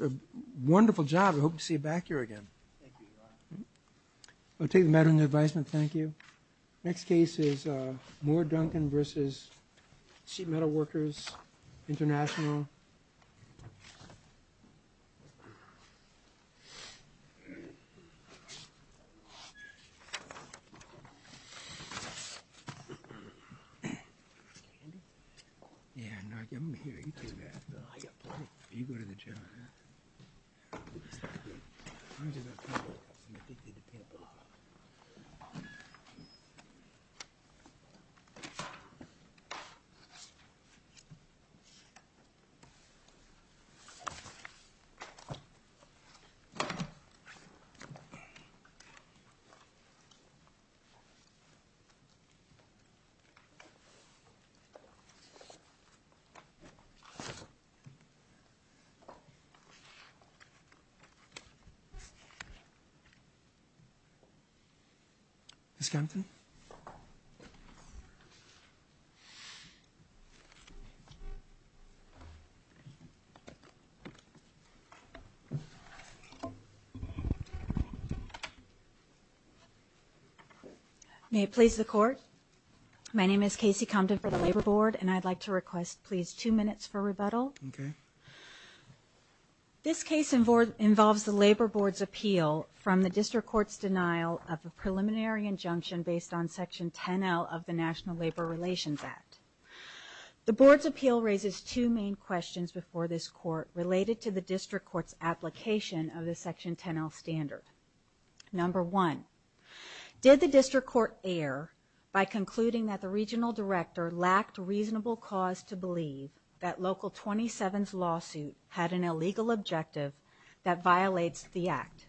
A wonderful job. I hope to see you back here again. I'll take the matter in advisement. Thank you. Next case is Moore-Duncan versus Sheet Metal Workers International. You go to the chair on that. Ms. Compton? May it please the Court, my name is Kasey Compton for the Labor Board and I'd like to request, please, two minutes for rebuttal. This case involves the Labor Board's appeal from the District Court's denial of a preliminary injunction based on Section 10L of the National Labor Relations Act. The Board's appeal raises two main questions before this Court related to the District Court's application of the Section 10L standard. Number one, did the District Court err by concluding that the Regional Director lacked reasonable cause to believe that Local 27's lawsuit had an illegal objective that violates the Act?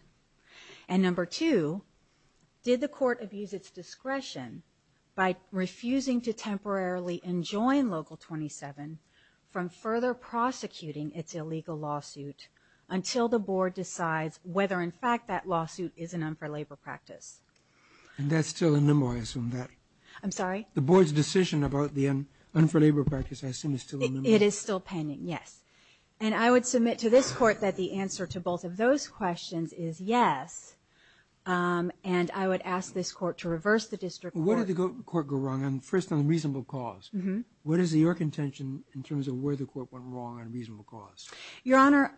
And number two, did the Court abuse its discretion by refusing to temporarily enjoin Local 27 from further prosecuting its illegal lawsuit until the Board decides whether in fact that That's still a memo, I assume. I'm sorry? The Board's decision about the un-for-labor practice, I assume, is still a memo? It is still pending, yes. And I would submit to this Court that the answer to both of those questions is yes. And I would ask this Court to reverse the District Court. Where did the Court go wrong? First, on reasonable cause. What is your contention in terms of where the Court went wrong on reasonable cause? Your Honor,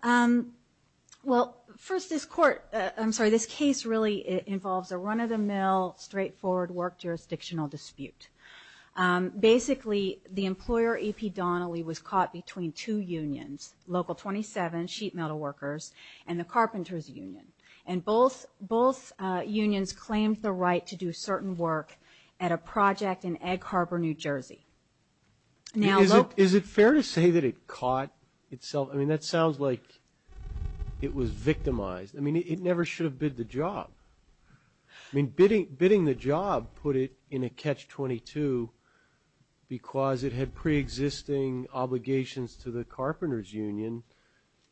well, first this Court, I'm sorry, this case really involves a run-of-the-mill, straightforward work jurisdictional dispute. Basically, the employer, E.P. Donnelly, was caught between two unions, Local 27, sheet metal workers, and the carpenter's union. And both unions claimed the right to do certain work at a project in Ag Harbor, New Jersey. Is it fair to say that it caught itself? I mean, that sounds like it was victimized. I mean, it never should have bid the job. I mean, bidding the job put it in a catch-22 because it had pre-existing obligations to the carpenter's union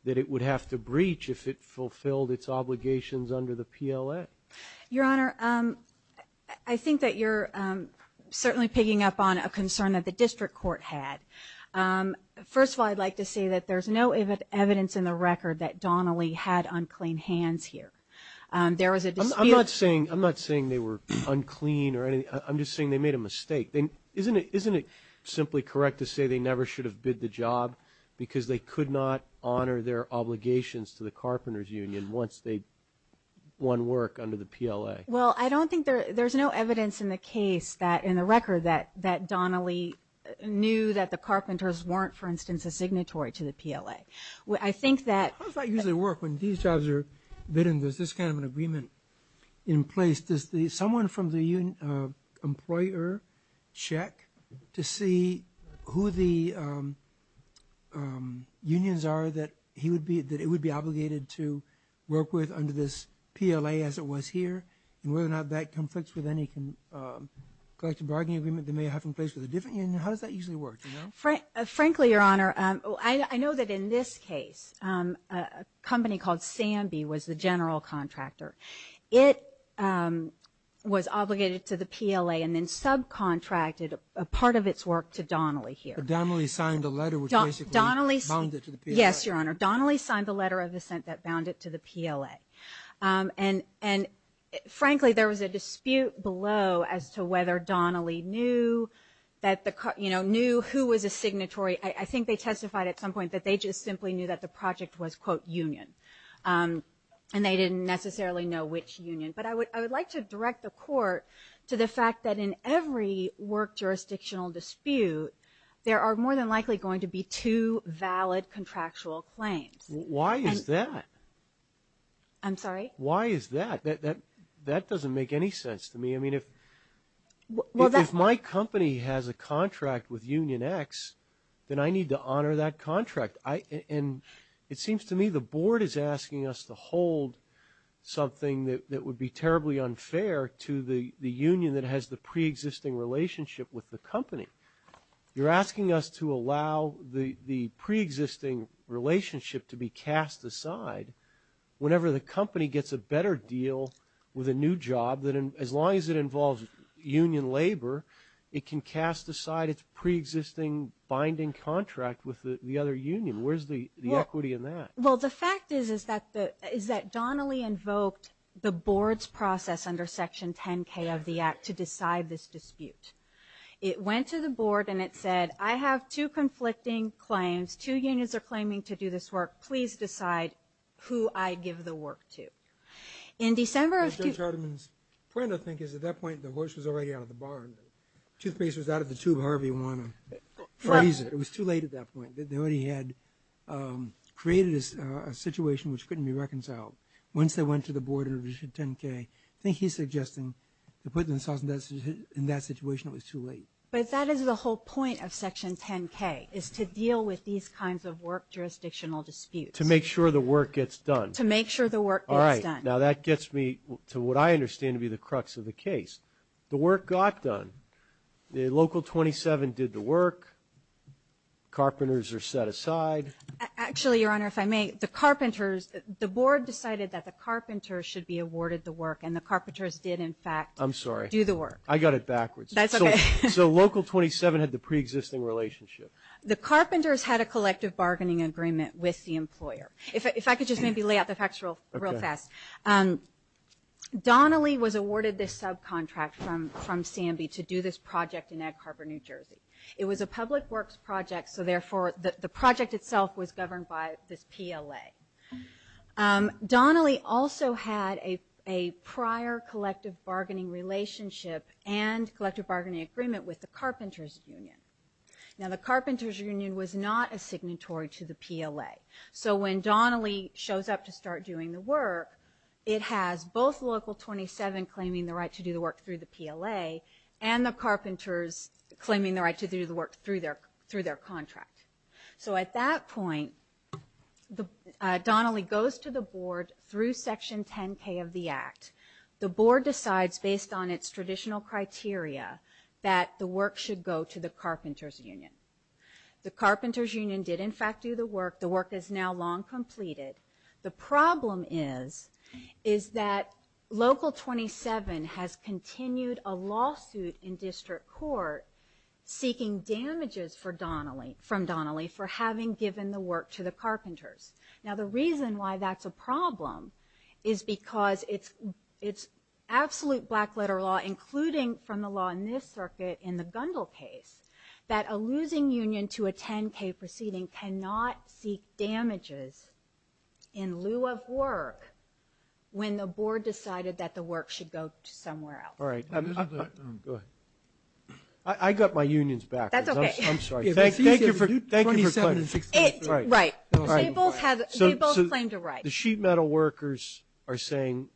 that it would have to breach if it fulfilled its obligations under the PLA. Your Honor, I think that you're certainly picking up on a concern that the District Court had. First of all, I'd like to say that there's no evidence in the record that Donnelly had unclean hands here. There was a dispute. I'm not saying they were unclean or anything. I'm just saying they made a mistake. Isn't it simply correct to say they never should have bid the job because they could not honor their obligations to the carpenter's union once they won work under the PLA? Well, I don't think there's no evidence in the case that, in the record, that Donnelly knew that the carpenters weren't, for instance, a signatory to the PLA. I think that... How does that usually work when these jobs are bidden? There's this kind of an agreement in place. Does someone from the employer check to see who the unions are that it would be and whether or not that conflicts with any collective bargaining agreement they may have in place with a different union? How does that usually work? Frankly, Your Honor, I know that in this case, a company called Sambi was the general contractor. It was obligated to the PLA and then subcontracted a part of its work to Donnelly here. Donnelly signed a letter which basically bound it to the PLA. And frankly, there was a dispute below as to whether Donnelly knew who was a signatory. I think they testified at some point that they just simply knew that the project was, quote, union. And they didn't necessarily know which union. But I would like to direct the Court to the fact that in every work jurisdictional dispute, there are more than likely going to be two valid contractual claims. Why is that? I'm sorry? Why is that? That doesn't make any sense to me. I mean, if my company has a contract with Union X, then I need to honor that contract. And it seems to me the Board is asking us to hold something that would be terribly unfair to the union that has the preexisting relationship with the company. You're asking us to allow the preexisting relationship to be cast aside whenever the company gets a better deal with a new job that, as long as it involves union labor, it can cast aside its preexisting binding contract with the other union. Where's the equity in that? Well, the fact is that Donnelly invoked the Board's process under Section 10K of the Act to decide this dispute. It went to the Board and it said, I have two conflicting claims. Two unions are claiming to do this work. Please decide who I give the work to. In December of 20- Mr. Charterman's point, I think, is at that point, the horse was already out of the barn. Toothpaste was out of the tube, however you want to phrase it. It was too late at that point. They already had created a situation which couldn't be reconciled. Once they went to the Board in addition to 10K, I think he's suggesting to put themselves in that situation, it was too late. But that is the whole point of Section 10K, is to deal with these kinds of work jurisdictional disputes. To make sure the work gets done. To make sure the work gets done. All right. Now, that gets me to what I understand to be the crux of the case. The work got done. The Local 27 did the work. Carpenters are set aside. Actually, Your Honor, if I may, the carpenters, the Board decided that the carpenters should be awarded the work, and the carpenters did, in fact- I'm sorry. Do the work. I got it backwards. That's okay. So Local 27 had the preexisting relationship. The carpenters had a collective bargaining agreement with the employer. If I could just maybe lay out the facts real fast. Donnelly was awarded this subcontract from Sambi to do this project in Ag Carpenter, New Jersey. It was a public works project, so therefore the project itself was governed by this PLA. Donnelly also had a prior collective bargaining relationship and collective bargaining agreement with the Carpenters Union. Now, the Carpenters Union was not a signatory to the PLA. So when Donnelly shows up to start doing the work, it has both Local 27 claiming the right to do the work through the PLA, and the carpenters claiming the right to do the work through their contract. So at that point, Donnelly goes to the board through Section 10K of the Act. The board decides, based on its traditional criteria, that the work should go to the Carpenters Union. The Carpenters Union did, in fact, do the work. The work is now long completed. The problem is, is that Local 27 has continued a lawsuit in district court seeking damages from Donnelly for having given the work to the Carpenters. Now, the reason why that's a problem is because it's absolute black-letter law, including from the law in this circuit in the Gundle case, that a losing union to a 10K proceeding cannot seek damages in lieu of work when the board decided that the work should go somewhere else. All right. Go ahead. I got my unions back. That's okay. I'm sorry. Thank you for claiming the right. Right. They both claimed a right. The sheet metal workers are saying,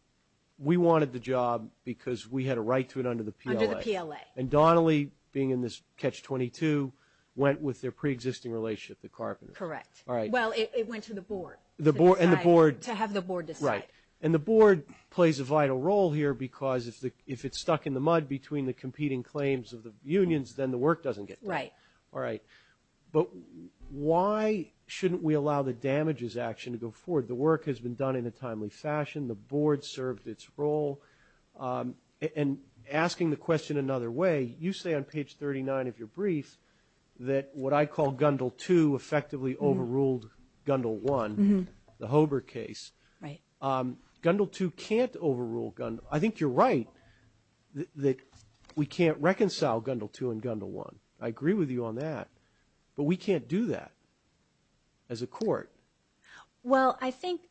we wanted the job because we had a right to it under the PLA. Under the PLA. And Donnelly, being in this Catch-22, went with their pre-existing relationship, the Carpenters. Correct. All right. Well, it went to the board. And the board. To have the board decide. Right. And the board plays a vital role here because if it's stuck in the mud between the competing claims of the unions, then the work doesn't get done. Right. All right. But why shouldn't we allow the damages action to go forward? The work has been done in a timely fashion. The board served its role. And asking the question another way, you say on page 39 of your brief that what I call overruled Gundel 1, the Hobart case. Right. Gundel 2 can't overrule Gundel. I think you're right that we can't reconcile Gundel 2 and Gundel 1. I agree with you on that. But we can't do that. As a court. Well, I think,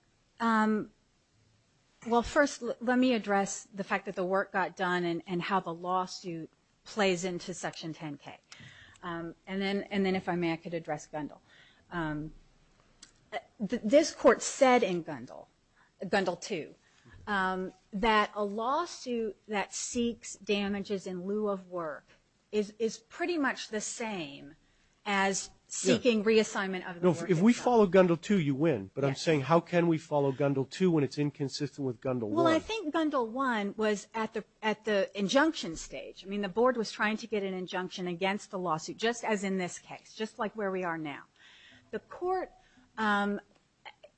well, first, let me address the fact that the work got done and how the lawsuit plays into Section 10K. And then, if I may, I could address Gundel. This court said in Gundel, Gundel 2, that a lawsuit that seeks damages in lieu of work is pretty much the same as seeking reassignment of the work itself. If we follow Gundel 2, you win. But I'm saying how can we follow Gundel 2 when it's inconsistent with Gundel 1? Well, I think Gundel 1 was at the injunction stage. I mean, the board was trying to get an injunction against the lawsuit, just as in this case, just like where we are now. The court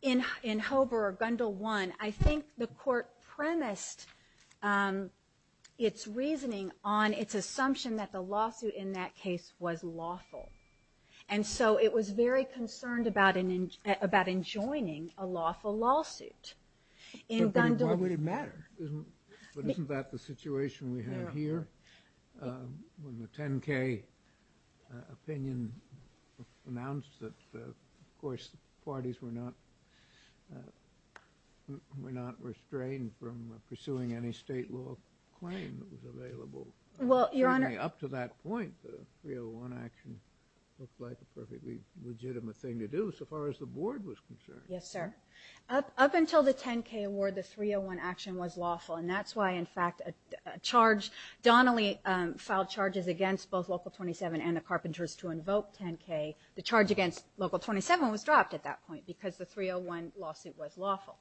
in Hobart or Gundel 1, I think the court premised its reasoning on its assumption that the lawsuit in that case was lawful. And so it was very concerned about enjoining a lawful lawsuit. In Gundel. Why would it matter? But isn't that the situation we have here? When the 10K opinion announced that, of course, parties were not restrained from pursuing any state law claim that was available. Up to that point, the 301 action looked like a perfectly legitimate thing to do, so far as the board was concerned. Yes, sir. Up until the 10K award, the 301 action was lawful, and that's why, in fact, a charge – Donnelly filed charges against both Local 27 and the Carpenters to invoke 10K. The charge against Local 27 was dropped at that point because the 301 lawsuit was lawful.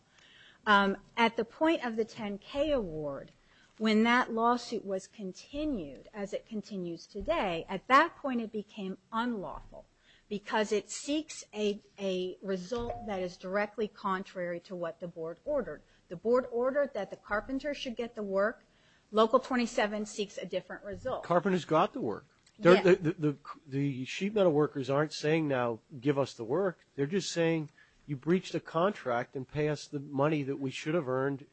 At the point of the 10K award, when that lawsuit was continued as it continues today, at that point it became unlawful because it seeks a result that is directly contrary to what the board ordered. The board ordered that the Carpenters should get the work. Local 27 seeks a different result. Carpenters got the work. The sheet metal workers aren't saying now, give us the work. They're just saying, you breached a contract and pay us the money that we should have earned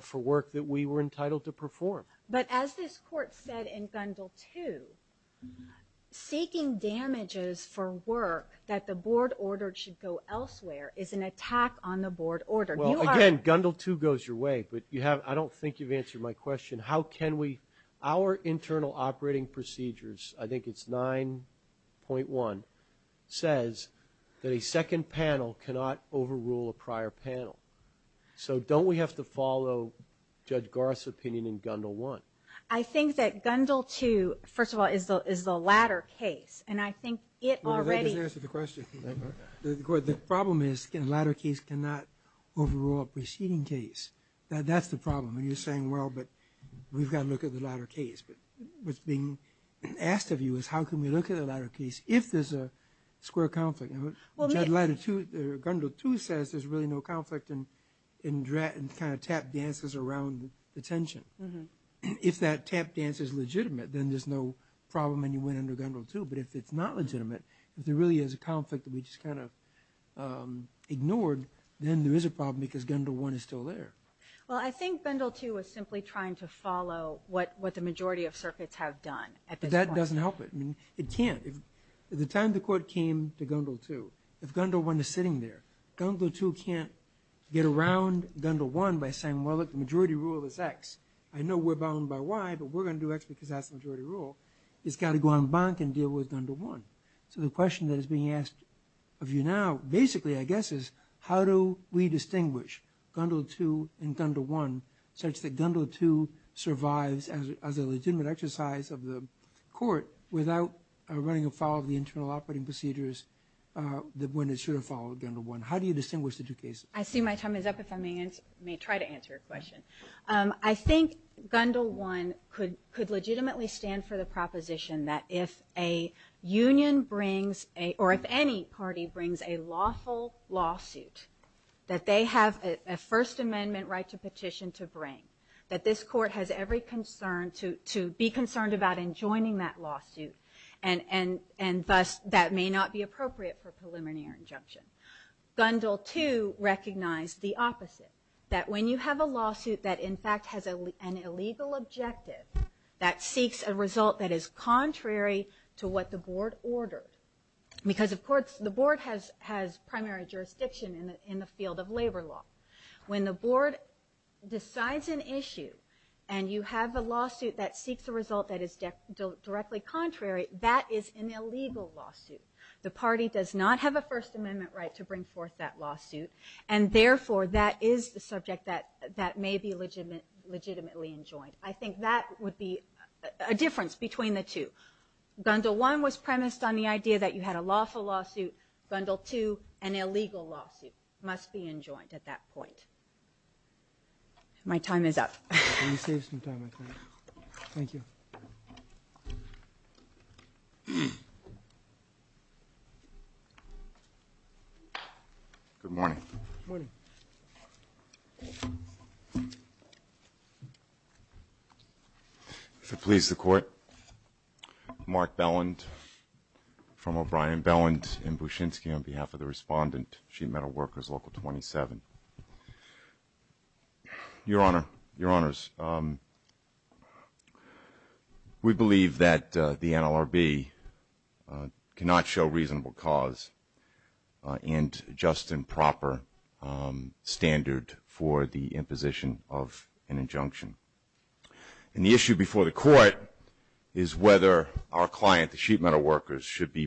for work that we were entitled to perform. But as this court said in Gundle 2, seeking damages for work that the board ordered should go elsewhere is an attack on the board order. Well, again, Gundle 2 goes your way, but I don't think you've answered my question. How can we – our internal operating procedures, I think it's 9.1, says that a second panel cannot overrule a prior panel. So don't we have to follow Judge Garth's opinion in Gundle 1? I think that Gundle 2, first of all, is the latter case. And I think it already – Well, that doesn't answer the question. The problem is the latter case cannot overrule a preceding case. That's the problem. And you're saying, well, but we've got to look at the latter case. But what's being asked of you is how can we look at the latter case if there's a square conflict? Well, the latter two – Gundle 2 says there's really no conflict and kind of tap dances around the tension. If that tap dance is legitimate, then there's no problem and you win under Gundle 2. But if it's not legitimate, if there really is a conflict that we just kind of ignored, then there is a problem because Gundle 1 is still there. Well, I think Gundle 2 was simply trying to follow what the majority of circuits have done at this point. But that doesn't help it. I mean, it can't. The time the court came to Gundle 2, if Gundle 1 is sitting there, Gundle 2 can't get around Gundle 1 by saying, well, look, the majority rule is X. I know we're bound by Y, but we're going to do X because that's the majority rule. It's got to go en banc and deal with Gundle 1. So the question that is being asked of you now basically, I guess, is how do we distinguish Gundle 2 and Gundle 1 such that Gundle 2 survives as a legitimate exercise of the court without running afoul of the internal operating procedures when it should have followed Gundle 1? How do you distinguish the two cases? I see my time is up if I may try to answer your question. I think Gundle 1 could legitimately stand for the proposition that if a union brings – or if any party brings a lawful lawsuit that they have a First Amendment right to petition to bring, that this court has every concern to be concerned about enjoining that and thus that may not be appropriate for a preliminary injunction. Gundle 2 recognized the opposite, that when you have a lawsuit that in fact has an illegal objective that seeks a result that is contrary to what the board ordered, because of course the board has primary jurisdiction in the field of labor law. When the board decides an issue and you have a lawsuit that seeks a result that is directly contrary, that is an illegal lawsuit. The party does not have a First Amendment right to bring forth that lawsuit and therefore that is the subject that may be legitimately enjoined. I think that would be a difference between the two. Gundle 1 was premised on the idea that you had a lawful lawsuit, Gundle 2 an illegal lawsuit must be enjoined at that point. My time is up. Can you save some time? Thank you. Good morning. Good morning. If it pleases the court, Mark Belland from O'Brien, Belland in Bushinsky on behalf of the respondent, Sheet Metal Workers, Local 27. Your Honor, Your Honors, we believe that the NLRB cannot show reasonable cause and just and proper standard for the imposition of an injunction. The issue before the court is whether our client, the Sheet Metal Workers, should be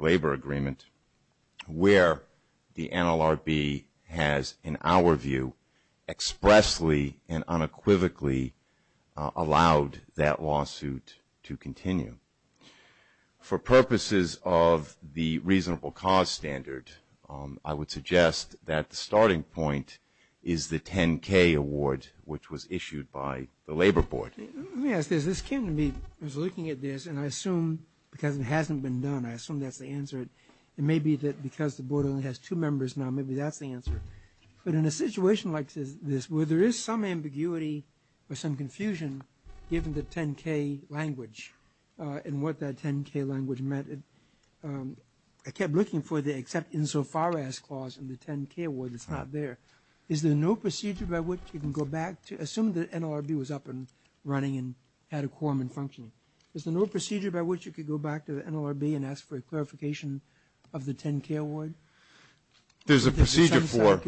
labor agreement where the NLRB has, in our view, expressly and unequivocally allowed that lawsuit to continue. For purposes of the reasonable cause standard, I would suggest that the starting point is the 10K award which was issued by the Labor Board. Let me ask this. This came to me, I was looking at this, and I assume because it hasn't been done, I assume that's the answer. It may be that because the board only has two members now, maybe that's the answer. But in a situation like this where there is some ambiguity or some confusion given the 10K language and what that 10K language meant, I kept looking for the except insofar as clause in the 10K award that's not there. Is there no procedure by which you can go back to, assume the NLRB was up and running and had a quorum and functioning, is there no procedure by which you could go back to the NLRB and ask for a clarification of the 10K award? There's a procedure for...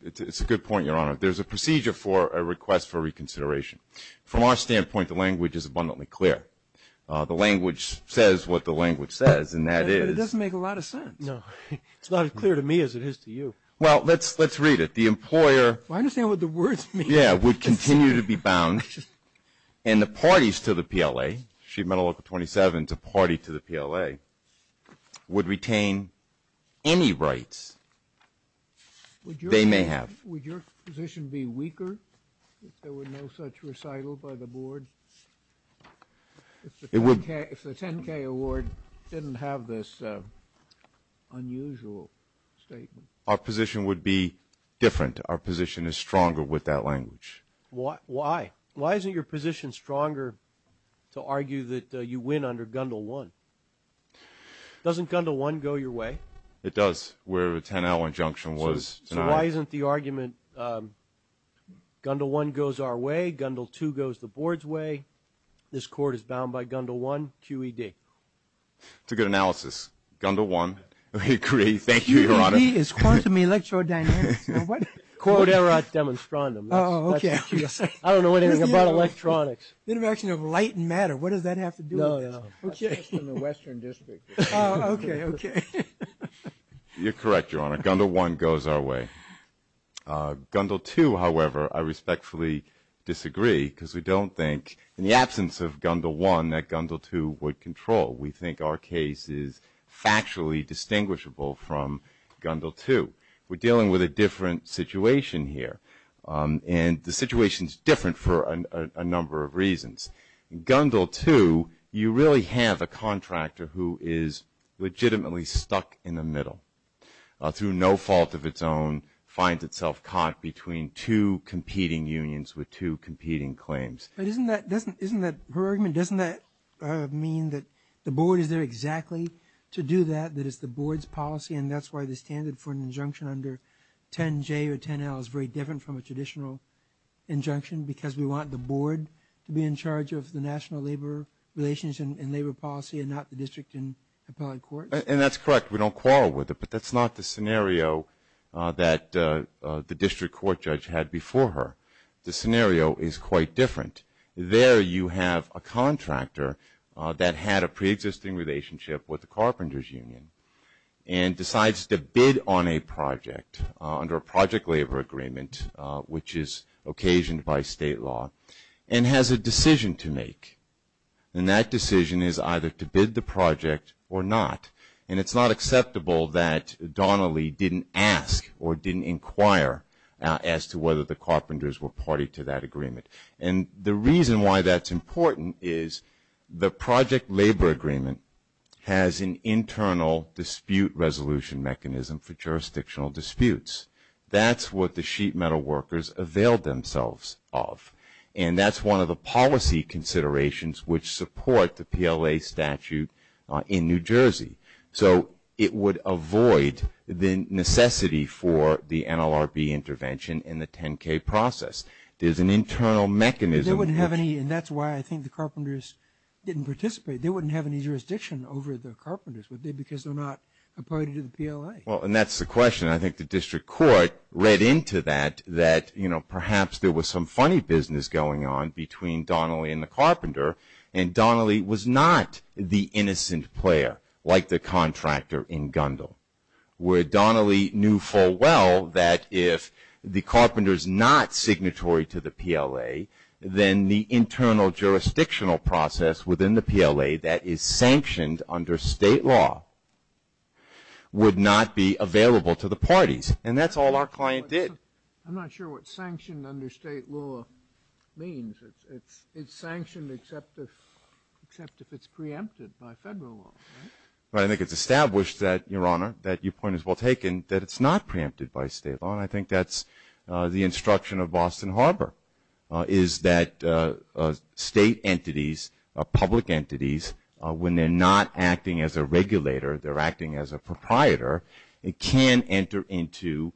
It's a good point, Your Honor. There's a procedure for a request for reconsideration. From our standpoint, the language is abundantly clear. The language says what the language says and that is... It doesn't make a lot of sense. No. It's not as clear to me as it is to you. Well, let's read it. The employer... I understand what the words mean. Yeah, would continue to be bound and the parties to the PLA, sheet metal local 27 to party to the PLA, would retain any rights they may have. Would your position be weaker if there were no such recital by the board, if the 10K award didn't have this unusual statement? Our position would be different. Our position is stronger with that language. Why? Why? Why isn't your position stronger to argue that you win under Gundel 1? Doesn't Gundel 1 go your way? It does. Where the 10L injunction was. So why isn't the argument Gundel 1 goes our way, Gundel 2 goes the board's way, this court is bound by Gundel 1, QED? It's a good analysis. Gundel 1, I agree. Thank you, Your Honor. QED is quantum electrodynamics. Quod erat demonstrandum. Oh, okay. I don't know anything about electronics. Interaction of light and matter. What does that have to do with this? No, no. That's just in the Western District. Oh, okay, okay. You're correct, Your Honor. Gundel 1 goes our way. Gundel 2, however, I respectfully disagree because we don't think, in the absence of Gundel 1, that Gundel 2 would control. We think our case is factually distinguishable from Gundel 2. We're dealing with a different situation here, and the situation's different for a number of reasons. In Gundel 2, you really have a contractor who is legitimately stuck in the middle, through no fault of its own, finds itself caught between two competing unions with two competing claims. But isn't that, doesn't, isn't that, her argument, doesn't that mean that the board is there to do that, that it's the board's policy, and that's why the standard for an injunction under 10J or 10L is very different from a traditional injunction, because we want the board to be in charge of the national labor relations and labor policy, and not the district and appellate courts? And that's correct. We don't quarrel with it. But that's not the scenario that the district court judge had before her. The scenario is quite different. There you have a contractor that had a pre-existing relationship with the carpenters' union, and decides to bid on a project under a project labor agreement, which is occasioned by state law, and has a decision to make. And that decision is either to bid the project or not. And it's not acceptable that Donnelly didn't ask or didn't inquire as to whether the carpenters were party to that agreement. And the reason why that's important is the project labor agreement has an internal dispute resolution mechanism for jurisdictional disputes. That's what the sheet metal workers availed themselves of. And that's one of the policy considerations which support the PLA statute in New Jersey. So it would avoid the necessity for the NLRB intervention in the 10K process. There's an internal mechanism. They wouldn't have any, and that's why I think the carpenters didn't participate. They wouldn't have any jurisdiction over the carpenters, would they, because they're not a party to the PLA? Well, and that's the question. I think the district court read into that, that, you know, perhaps there was some funny business going on between Donnelly and the carpenter. And Donnelly was not the innocent player, like the contractor in Gundle, where Donnelly knew full well that if the carpenter is not signatory to the PLA, then the internal jurisdictional process within the PLA that is sanctioned under state law would not be available to the parties. And that's all our client did. I'm not sure what sanctioned under state law means. It's sanctioned except if it's preempted by federal law, right? But I think it's established that, Your Honor, that your point is well taken, that it's not preempted by state law, and I think that's the instruction of Boston Harbor, is that state entities, public entities, when they're not acting as a regulator, they're acting as a proprietor, can enter into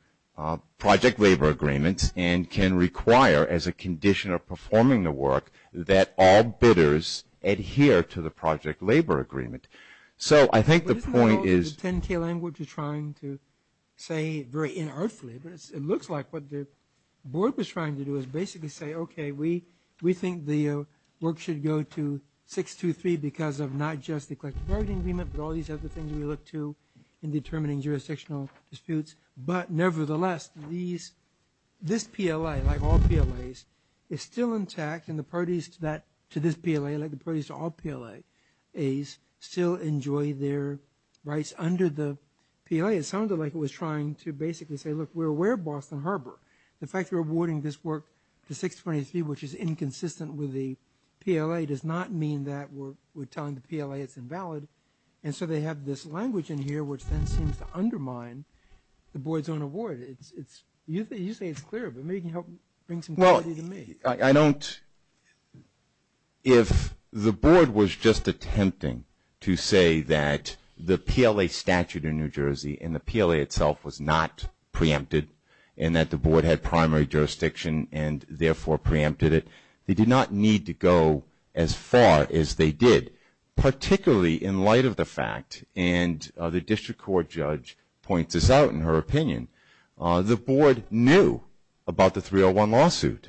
project labor agreements and can require, as a condition of performing the work, that all bidders adhere to the project labor agreement. So I think the point is... But isn't all the 10-K language you're trying to say very inartfully, but it looks like what the board was trying to do is basically say, okay, we think the work should go to 623 because of not just the collective bargaining agreement, but all these other things we look to in determining jurisdictional disputes. But nevertheless, this PLA, like all PLAs, is still intact, and the parties to this PLA, like the parties to all PLAs, still enjoy their rights under the PLA. It sounded like it was trying to basically say, look, we're aware of Boston Harbor. The fact we're awarding this work to 623, which is inconsistent with the PLA, does not mean that we're telling the PLA it's invalid. And so they have this language in here which then seems to undermine the board's own award. You say it's clear, but maybe you can help bring some clarity to me. I don't... If the board was just attempting to say that the PLA statute in New Jersey and the PLA itself was not preempted, and that the board had primary jurisdiction and therefore preempted it, they did not need to go as far as they did, particularly in light of the fact, and the district court judge points this out in her opinion, the board knew about the 301 lawsuit.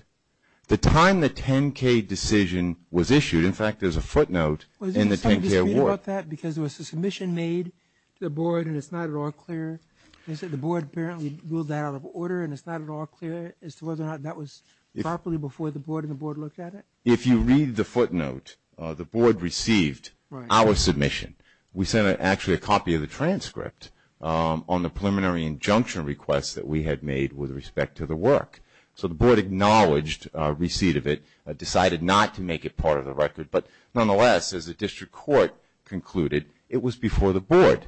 The time the 10-K decision was issued, in fact, there's a footnote in the 10-K award. Was there something to say about that? Because there was a submission made to the board, and it's not at all clear. They said the board apparently ruled that out of order, and it's not at all clear as to whether or not that was properly before the board and the board looked at it. If you read the footnote, the board received our submission. We sent actually a copy of the transcript on the preliminary injunction request that we had made with respect to the work. So the board acknowledged receipt of it, decided not to make it part of the record, but nonetheless, as the district court concluded, it was before the board.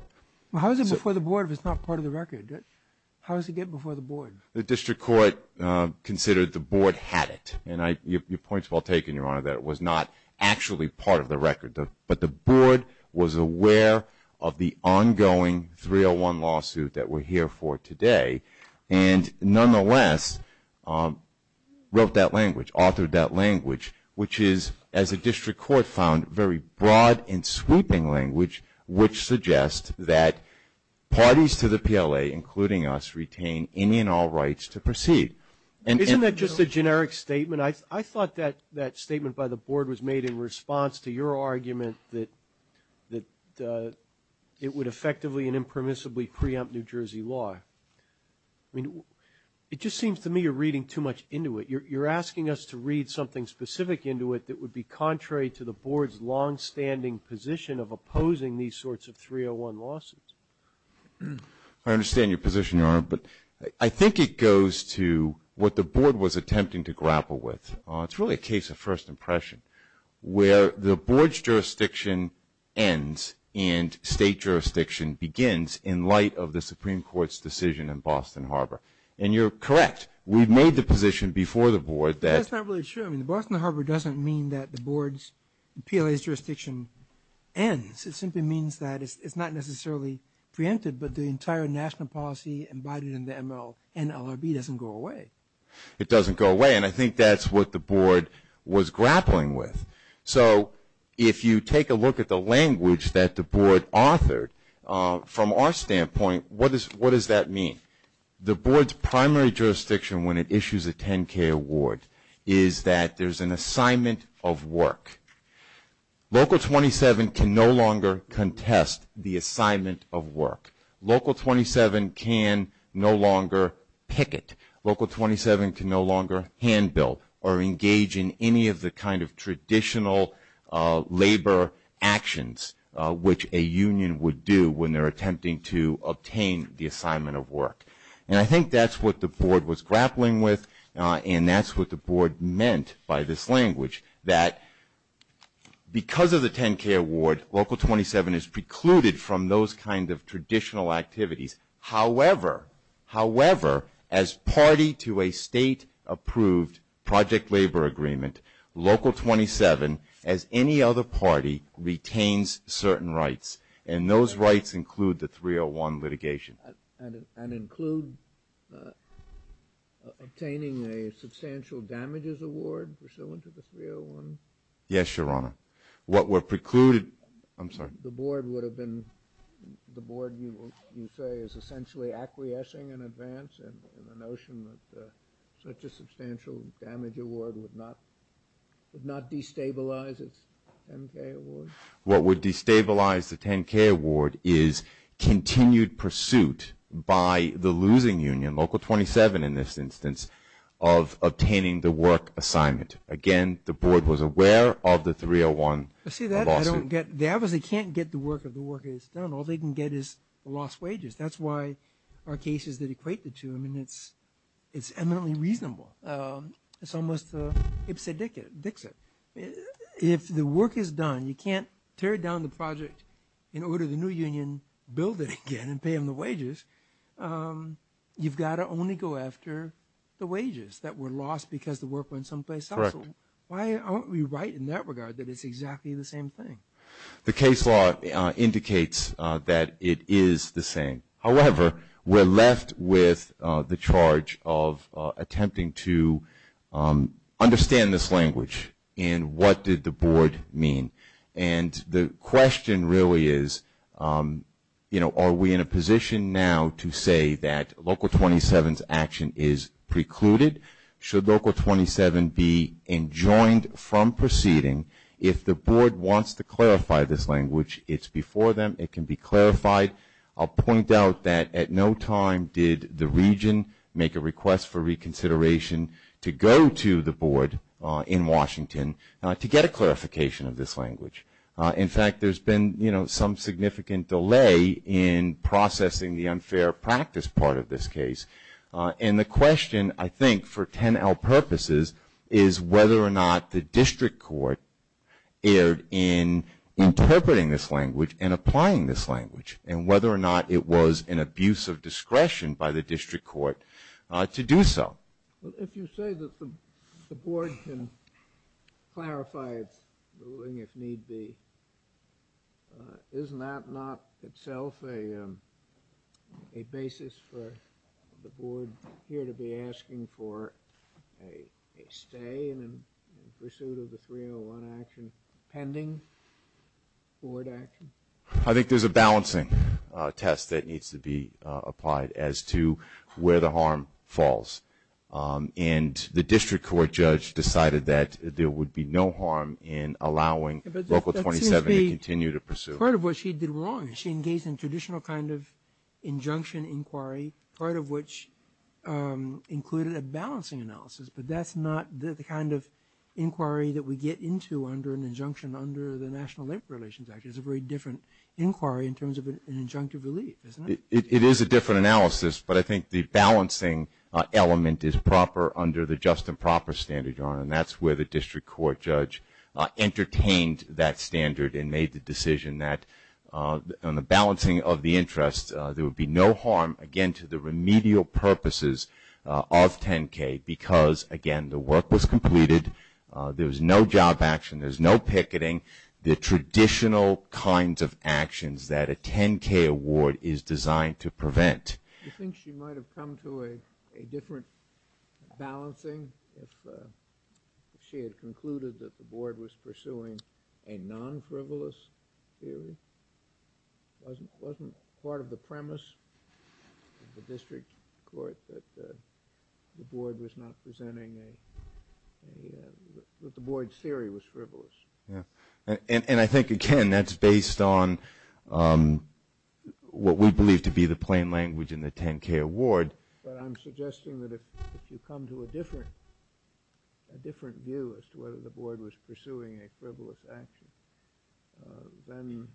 How is it before the board if it's not part of the record? How does it get before the board? The district court considered the board had it, and your point's well taken, Your Honor, that it was not actually part of the record, but the board was aware of the ongoing 301 lawsuit that we're here for today, and nonetheless, wrote that language, authored that language, which is, as the district court found, very broad and sweeping language, which suggests that parties to the PLA, including us, retain any and all rights to proceed. Isn't that just a generic statement? I thought that statement by the board was made in response to your argument that it would effectively and impermissibly preempt New Jersey law. It just seems to me you're reading too much into it. You're asking us to read something specific into it that would be contrary to the board's longstanding position of opposing these sorts of 301 lawsuits. I understand your position, Your Honor, but I think it goes to what the board was attempting to grapple with. It's really a case of first impression, where the board's jurisdiction ends and state jurisdiction begins in light of the Supreme Court's decision in Boston Harbor. And you're correct. We've made the position before the board that- That's not really true. I mean, the Boston Harbor doesn't mean that the board's PLA's jurisdiction ends. It simply means that it's not necessarily preempted, but the entire national policy embodied in the MLNLRB doesn't go away. It doesn't go away. And again, I think that's what the board was grappling with. So if you take a look at the language that the board authored, from our standpoint, what does that mean? The board's primary jurisdiction when it issues a 10K award is that there's an assignment of work. Local 27 can no longer contest the assignment of work. Local 27 can no longer picket. Local 27 can no longer handbill or engage in any of the kind of traditional labor actions which a union would do when they're attempting to obtain the assignment of work. And I think that's what the board was grappling with, and that's what the board meant by this language, that because of the 10K award, Local 27 is precluded from those kind of traditional activities. However, however, as party to a state-approved project labor agreement, Local 27, as any other party, retains certain rights. And those rights include the 301 litigation. And include obtaining a substantial damages award pursuant to the 301? Yes, Your Honor. What were precluded... I'm sorry. The board would have been... the board, you say, is essentially acquiescing in advance in the notion that such a substantial damage award would not destabilize its 10K award? What would destabilize the 10K award is continued pursuit by the losing union, Local 27 in this instance, of obtaining the work assignment. Again, the board was aware of the 301 lawsuit. See, that I don't get. They obviously can't get the work if the work is done. All they can get is lost wages. That's why our cases that equate the two, I mean, it's eminently reasonable. It's almost ipse dixit. If the work is done, you can't tear down the project in order the new union build it again and pay them the wages. You've got to only go after the wages that were lost because the work went someplace else. Correct. Why aren't we right in that regard that it's exactly the same thing? The case law indicates that it is the same. However, we're left with the charge of attempting to understand this language and what did the board mean. The question really is, are we in a position now to say that Local 27's action is precluded? Should Local 27 be enjoined from proceeding if the board wants to clarify this language? It's before them. It can be clarified. I'll point out that at no time did the region make a request for reconsideration to go to the board in Washington to get a clarification of this language. In fact, there's been some significant delay in processing the unfair practice part of this case. The question, I think, for 10L purposes is whether or not the district court erred in interpreting this language and applying this language and whether or not it was an abuse of discretion by the district court to do so. If you say that the board can clarify its ruling if need be, isn't that not itself a the board here to be asking for a stay in pursuit of the 301 action pending board action? I think there's a balancing test that needs to be applied as to where the harm falls. The district court judge decided that there would be no harm in allowing Local 27 to continue to pursue. Part of what she did wrong. She engaged in traditional kind of injunction inquiry, part of which included a balancing analysis, but that's not the kind of inquiry that we get into under an injunction under the National Labor Relations Act. It's a very different inquiry in terms of an injunctive relief, isn't it? It is a different analysis, but I think the balancing element is proper under the just and proper standard, Your Honor, and that's where the district court judge entertained that standard and made the decision that on the balancing of the interest, there would be no harm, again, to the remedial purposes of 10K because, again, the work was completed. There's no job action. There's no picketing. The traditional kinds of actions that a 10K award is designed to prevent. Do you think she might have come to a different balancing if she had concluded that the board was pursuing a non-frivolous theory? Wasn't part of the premise of the district court that the board was not presenting a – that the board's theory was frivolous? And I think, again, that's based on what we believe to be the plain language in the 10K award. But I'm suggesting that if you come to a different view as to whether the board was pursuing a frivolous action, then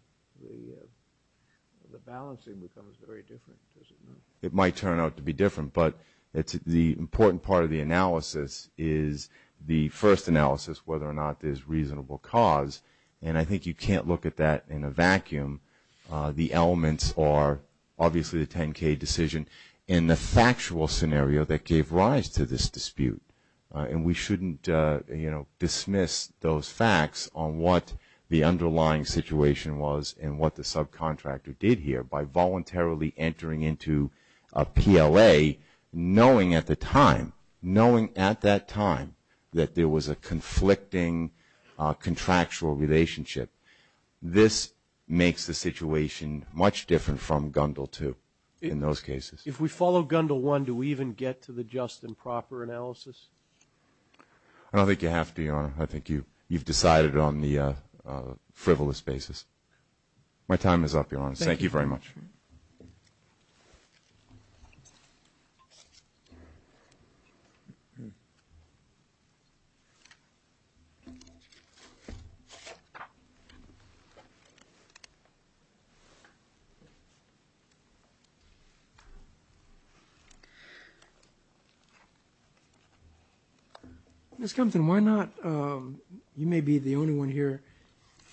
the balancing becomes very different, doesn't it? It might turn out to be different, but the important part of the analysis is the first analysis whether or not there's reasonable cause, and I think you can't look at that in a vacuum. The elements are obviously the 10K decision in the factual scenario that gave rise to this dispute, and we shouldn't dismiss those facts on what the underlying situation was and what the subcontractor did here by voluntarily entering into a PLA knowing at the time, knowing at that time, that there was a conflicting contractual relationship. This makes the situation much different from Gundel II in those cases. If we follow Gundel I, do we even get to the just and proper analysis? I don't think you have to, Your Honor. I think you've decided on the frivolous basis. My time is up, Your Honor. Thank you very much. Thank you. Ms. Compton, you may be the only one here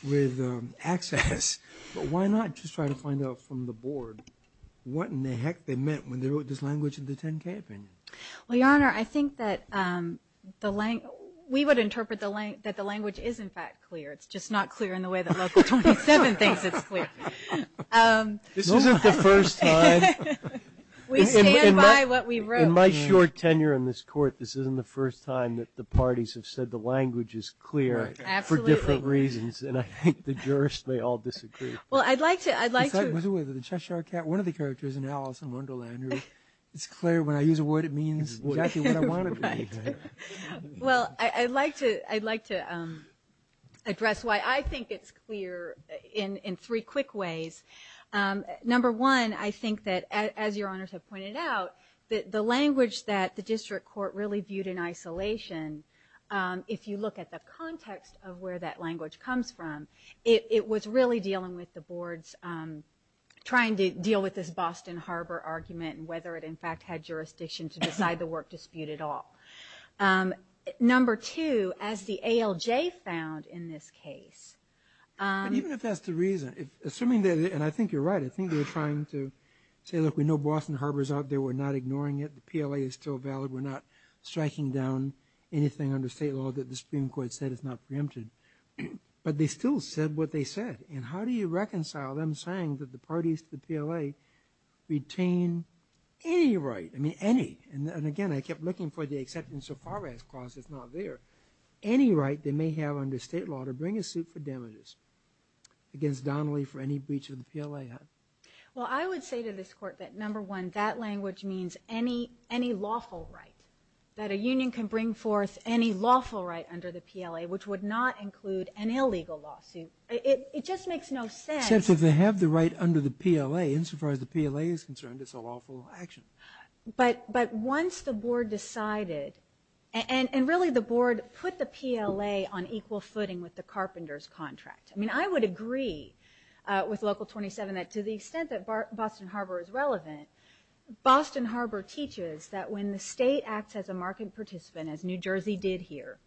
with access, but why not just try to find out from the board what in the heck they meant when they wrote this language in the 10K opinion? Well, Your Honor, I think that we would interpret that the language is, in fact, clear. It's just not clear in the way that Local 27 thinks it's clear. This isn't the first time. We stand by what we wrote. In my short tenure in this Court, this isn't the first time that the parties have said the language is clear for different reasons, and I think the jurists may all disagree. Well, I'd like to... Was it with the Cheshire Cat? One of the characters in Alice in Wonderland, it's clear. When I use a word, it means exactly what I want it to mean. Well, I'd like to address why I think it's clear in three quick ways. Number one, I think that, as Your Honors have pointed out, that the language that the District Court really viewed in isolation, if you look at the context of where that language comes from, it was really dealing with the boards trying to deal with this Boston Harbor argument and whether it, in fact, had jurisdiction to decide the work dispute at all. Number two, as the ALJ found in this case... But even if that's the reason, assuming that... And I think you're right. I think they were trying to say, look, we know Boston Harbor's out there. We're not ignoring it. The PLA is still valid. We're not striking down anything under state law that the Supreme Court said is not preempted. But they still said what they said. And how do you reconcile them saying that the parties to the PLA retain any right? I mean, any. And again, I kept looking for the acceptance of far-range clauses not there. Any right they may have under state law to bring a suit for damages against Donnelly for any breach of the PLA. Well, I would say to this Court that, number one, that language means any lawful right, that a union can bring forth any lawful right under the PLA, which would not include an illegal lawsuit. It just makes no sense. Except if they have the right under the PLA. And so far as the PLA is concerned, it's a lawful action. But once the board decided... And really, the board put the PLA on equal footing with the Carpenters' contract. I mean, I would agree with Local 27 that to the extent that Boston Harbor is relevant, Boston Harbor teaches that when the state acts as a market participant, as New Jersey did here,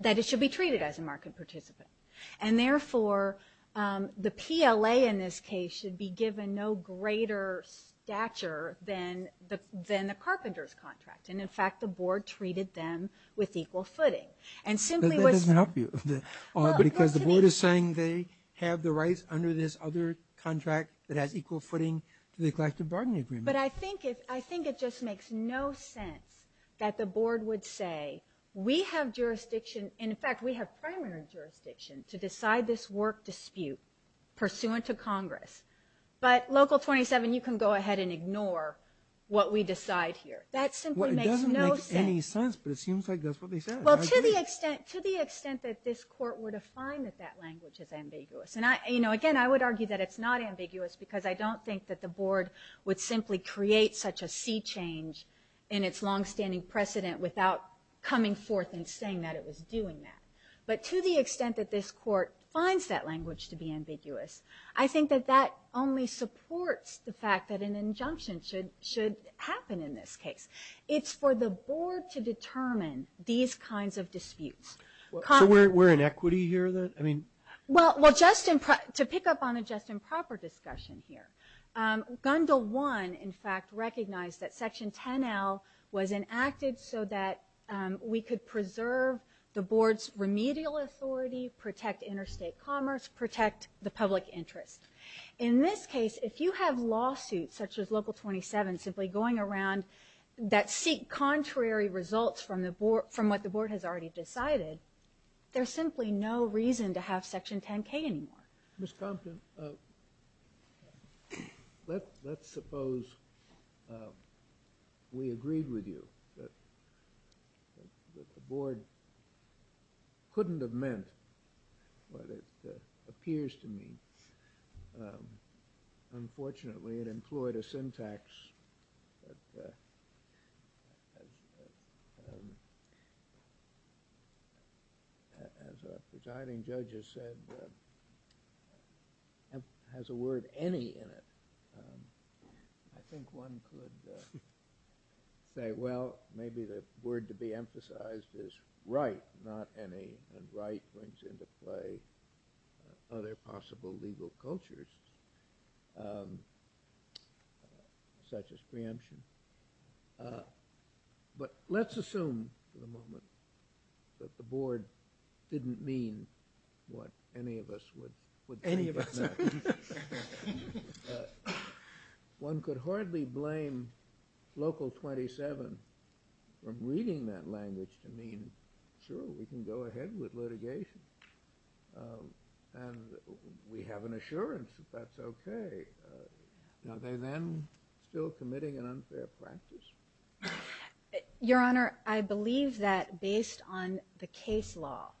that it should be treated as a market participant. And therefore, the PLA in this case should be given no greater stature than the Carpenters' contract. And, in fact, the board treated them with equal footing. And simply was... That doesn't help you. Because the board is saying they have the rights under this other contract that has equal footing to the collective bargaining agreement. But I think it just makes no sense that the board would say, we have jurisdiction, in fact, we have primary jurisdiction to decide this work dispute pursuant to Congress. But Local 27, you can go ahead and ignore what we decide here. That simply makes no sense. Well, it doesn't make any sense, but it seems like that's what they said. Well, to the extent that this court were to find that that language is ambiguous. And, again, I would argue that it's not ambiguous, because I don't think that the board would simply create such a sea change in its longstanding precedent without coming forth and saying that it was doing that. But to the extent that this court finds that language to be ambiguous, I think that that only supports the fact that an injunction should happen in this case. It's for the board to determine these kinds of disputes. So we're in equity here then? Well, to pick up on a just and proper discussion here, Gundel 1, in fact, recognized that Section 10L was enacted so that we could preserve the board's remedial authority, protect interstate commerce, protect the public interest. In this case, if you have lawsuits such as Local 27 simply going around that seek contrary results from what the board has already decided, there's simply no reason to have Section 10K anymore. Ms. Compton, let's suppose we agreed with you that the board couldn't have meant what it appears to mean. Unfortunately, it employed a syntax that, as a presiding judge has said, has the word any in it. I think one could say, well, maybe the word to be emphasized is right, not any. And right brings into play other possible legal cultures, such as preemption. But let's assume for the moment that the board didn't mean what any of us would think it meant. One could hardly blame Local 27 from reading that language to mean, sure, we can go ahead with litigation, and we have an assurance that that's okay. Are they then still committing an unfair practice? Your Honor, I believe that based on the case law,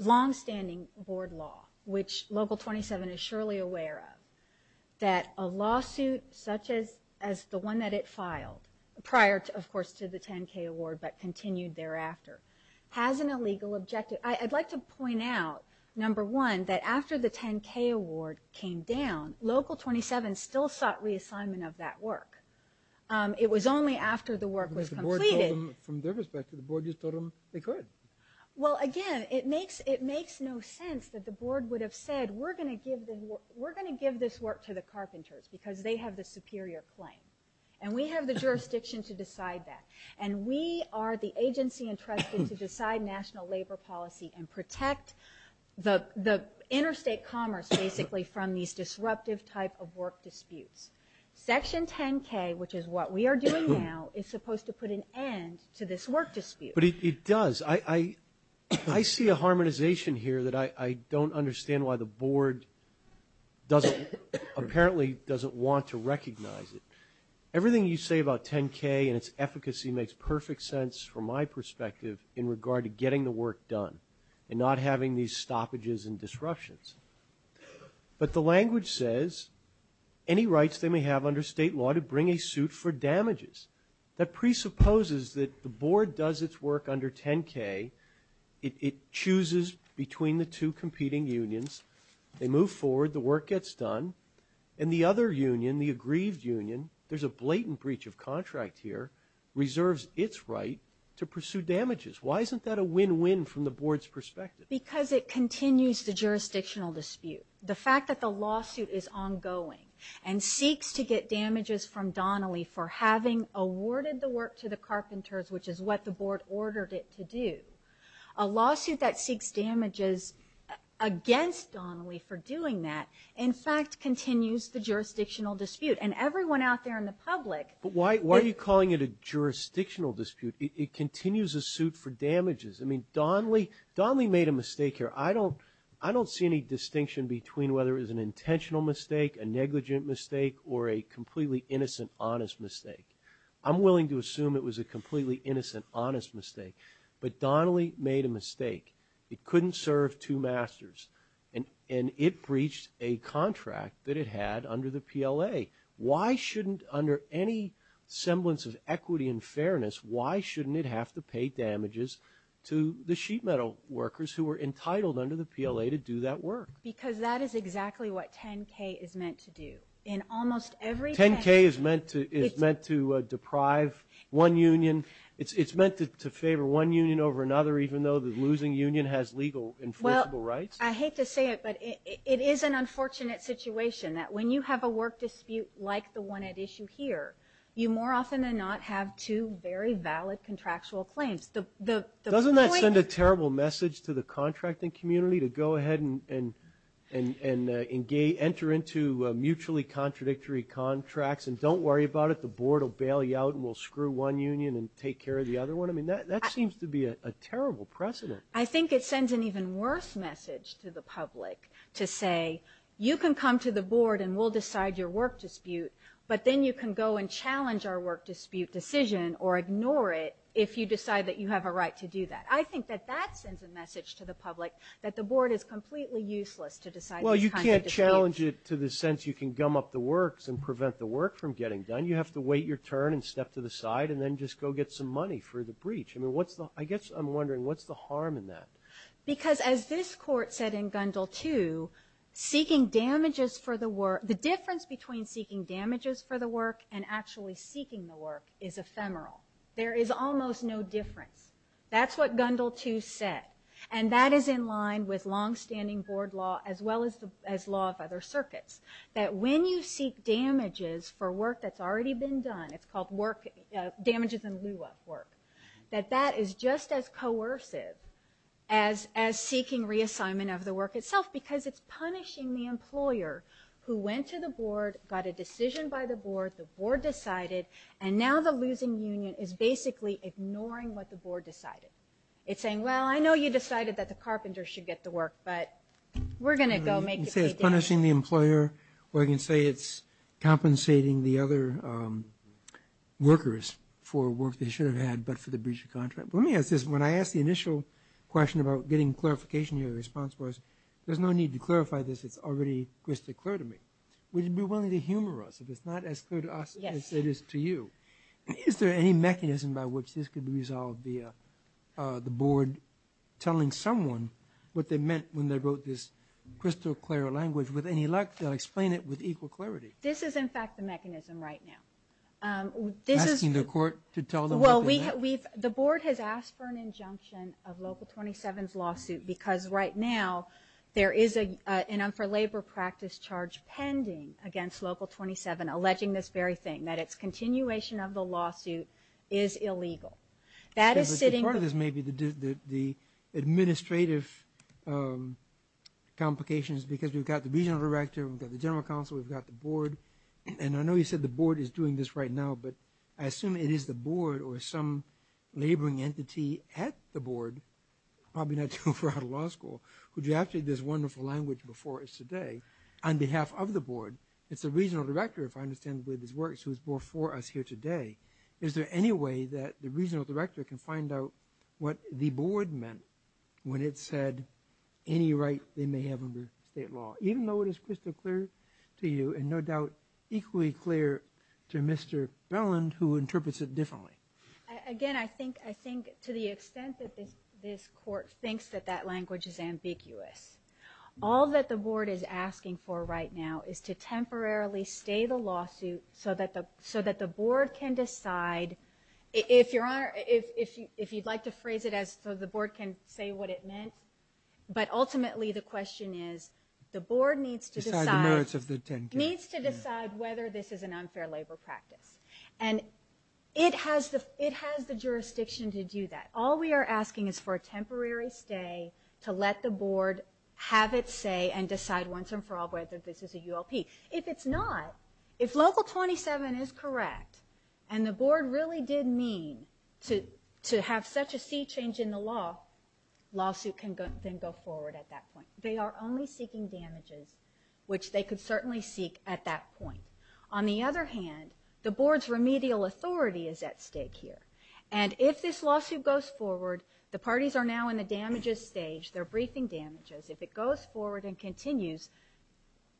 longstanding board law, which Local 27 is surely aware of, that a lawsuit such as the one that it filed, prior, of course, to the 10K award, but continued thereafter, has an illegal objective. I'd like to point out, number one, that after the 10K award came down, Local 27 still sought reassignment of that work. It was only after the work was completed. But the board told them, from their perspective, the board just told them they could. Well, again, it makes no sense that the board would have said, we're going to give this work to the carpenters because they have the superior claim. And we have the jurisdiction to decide that. And we are the agency entrusted to decide national labor policy and protect the interstate commerce, basically, from these disruptive type of work disputes. Section 10K, which is what we are doing now, is supposed to put an end to this work dispute. But it does. I see a harmonization here that I don't understand why the board apparently doesn't want to recognize it. Everything you say about 10K and its efficacy makes perfect sense, from my perspective, in regard to getting the work done and not having these stoppages and disruptions. But the language says, any rights they may have under state law to bring a suit for damages. That presupposes that the board does its work under 10K. It chooses between the two competing unions. They move forward. The work gets done. And the other union, the aggrieved union, there's a blatant breach of contract here, reserves its right to pursue damages. Why isn't that a win-win from the board's perspective? Because it continues the jurisdictional dispute. The fact that the lawsuit is ongoing and seeks to get damages from Donnelly for having awarded the work to the carpenters, which is what the board ordered it to do. A lawsuit that seeks damages against Donnelly for doing that, in fact, continues the jurisdictional dispute. And everyone out there in the public. But why are you calling it a jurisdictional dispute? It continues a suit for damages. I mean, Donnelly made a mistake here. I don't see any distinction between whether it was an intentional mistake, a negligent mistake, or a completely innocent, honest mistake. I'm willing to assume it was a completely innocent, honest mistake. But Donnelly made a mistake. It couldn't serve two masters. And it breached a contract that it had under the PLA. Why shouldn't, under any semblance of equity and fairness, why shouldn't it have to pay damages to the sheet metal workers who were entitled under the PLA to do that work? Because that is exactly what 10-K is meant to do. In almost every case. 10-K is meant to deprive one union. It's meant to favor one union over another, even though the losing union has legal enforceable rights. Well, I hate to say it, but it is an unfortunate situation. When you have a work dispute like the one at issue here, you more often than not have two very valid contractual claims. Doesn't that send a terrible message to the contracting community, to go ahead and enter into mutually contradictory contracts and don't worry about it? The board will bail you out and we'll screw one union and take care of the other one? I mean, that seems to be a terrible precedent. I think it sends an even worse message to the public to say, you can come to the board and we'll decide your work dispute, but then you can go and challenge our work dispute decision or ignore it if you decide that you have a right to do that. I think that that sends a message to the public that the board is completely useless to decide this kind of dispute. Well, you can't challenge it to the sense you can gum up the works and prevent the work from getting done. You have to wait your turn and step to the side and then just go get some money for the breach. I guess I'm wondering, what's the harm in that? Because as this court said in Gundle 2, the difference between seeking damages for the work and actually seeking the work is ephemeral. There is almost no difference. That's what Gundle 2 said, and that is in line with longstanding board law as well as law of other circuits, that when you seek damages for work that's already been done, it's called damages in lieu of work, that that is just as coercive as seeking reassignment of the work itself, because it's punishing the employer who went to the board, got a decision by the board, the board decided, and now the losing union is basically ignoring what the board decided. It's saying, well, I know you decided that the carpenter should get the work, but we're going to go make it pay down. I can say it's punishing the employer, or I can say it's compensating the other workers for work they should have had but for the breach of contract. Let me ask this. When I asked the initial question about getting clarification, your response was, there's no need to clarify this. It's already crystal clear to me. Would you be willing to humor us if it's not as clear to us as it is to you? Is there any mechanism by which this could be resolved via the board telling someone what they meant when they wrote this crystal clear language? With any luck, they'll explain it with equal clarity. This is, in fact, the mechanism right now. Asking the court to tell them what they meant? The board has asked for an injunction of Local 27's lawsuit because right now there is an un-for-labor practice charge pending against Local 27 alleging this very thing, that its continuation of the lawsuit is illegal. Part of this may be the administrative complications because we've got the regional director, we've got the general counsel, we've got the board, and I know you said the board is doing this right now, but I assume it is the board or some laboring entity at the board, probably not too far out of law school, who drafted this wonderful language before us today on behalf of the board. It's the regional director, if I understand the way this works, who is before us here today. Is there any way that the regional director can find out what the board meant when it said any right they may have under state law, even though it is crystal clear to you and no doubt equally clear to Mr. Belland who interprets it differently? Again, I think to the extent that this court thinks that that language is ambiguous. All that the board is asking for right now is to temporarily stay the lawsuit so that the board can decide. If you'd like to phrase it as so the board can say what it meant, but ultimately the question is the board needs to decide whether this is an unfair labor practice. And it has the jurisdiction to do that. All we are asking is for a temporary stay to let the board have its say and decide once and for all whether this is a ULP. If it's not, if Local 27 is correct, and the board really did mean to have such a sea change in the law, the lawsuit can then go forward at that point. They are only seeking damages, which they could certainly seek at that point. On the other hand, the board's remedial authority is at stake here. And if this lawsuit goes forward, the parties are now in the damages stage. They're briefing damages. If it goes forward and continues,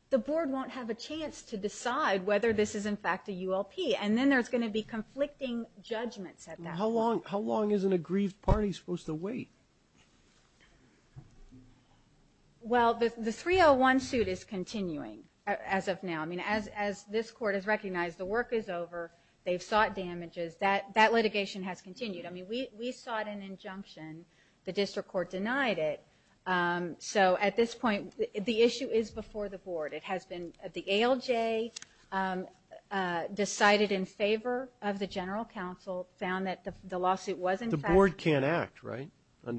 the board won't have a chance to decide whether this is in fact a ULP. And then there's going to be conflicting judgments at that point. How long is an aggrieved party supposed to wait? Well, the 301 suit is continuing as of now. I mean, as this court has recognized, the work is over. They've sought damages. That litigation has continued. I mean, we sought an injunction. The district court denied it. So at this point, the issue is before the board. It has been the ALJ decided in favor of the general counsel, found that the lawsuit was in fact. The board can't act, right,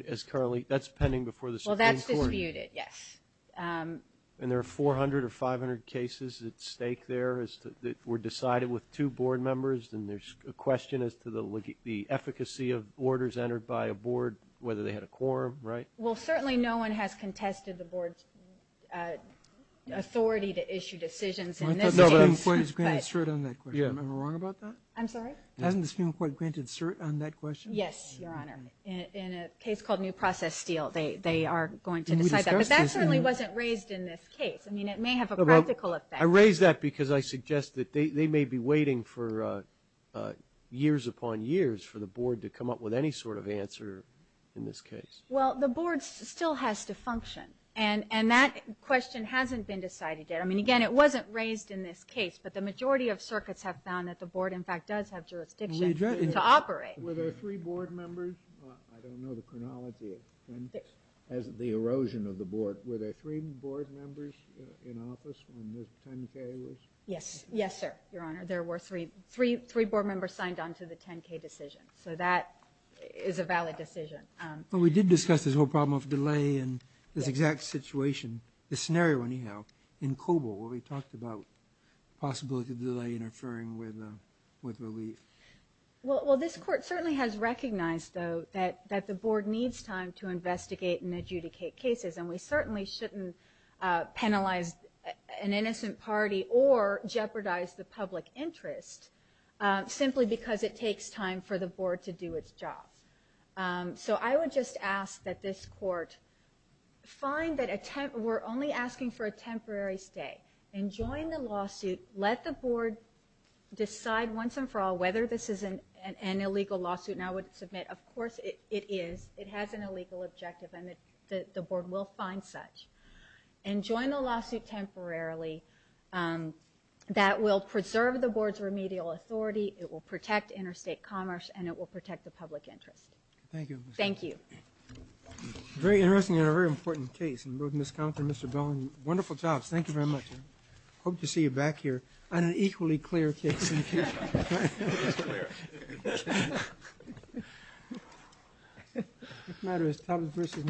as currently? That's pending before the Supreme Court. Well, that's disputed, yes. And there are 400 or 500 cases at stake there that were decided with two board members. And there's a question as to the efficacy of orders entered by a board, whether they had a quorum, right? Well, certainly no one has contested the board's authority to issue decisions. I thought the Supreme Court has granted cert on that question. Am I wrong about that? I'm sorry? Hasn't the Supreme Court granted cert on that question? Yes, Your Honor. In a case called New Process Steel, they are going to decide that. But that certainly wasn't raised in this case. I mean, it may have a practical effect. I raise that because I suggest that they may be waiting for years upon years for the board to come up with any sort of answer in this case. Well, the board still has to function. And that question hasn't been decided yet. I mean, again, it wasn't raised in this case. But the majority of circuits have found that the board, in fact, does have jurisdiction to operate. Were there three board members? I don't know the chronology of the erosion of the board. But were there three board members in office when the 10-K was? Yes. Yes, sir, Your Honor. There were three board members signed on to the 10-K decision. So that is a valid decision. But we did discuss this whole problem of delay and this exact situation, this scenario anyhow, in Cobo, where we talked about the possibility of delay interfering with relief. Well, this court certainly has recognized, though, that the board needs time to investigate and adjudicate cases. And we certainly shouldn't penalize an innocent party or jeopardize the public interest simply because it takes time for the board to do its job. So I would just ask that this court find that we're only asking for a temporary stay and join the lawsuit. Let the board decide once and for all whether this is an illegal lawsuit. And I would submit, of course, it is. It has an illegal objective. And the board will find such. And join the lawsuit temporarily. That will preserve the board's remedial authority. It will protect interstate commerce. And it will protect the public interest. Thank you. Thank you. Very interesting and a very important case. And both Ms. Compton and Mr. Bowen, wonderful jobs. Thank you very much. I hope to see you back here on an equally clear case. It's clear.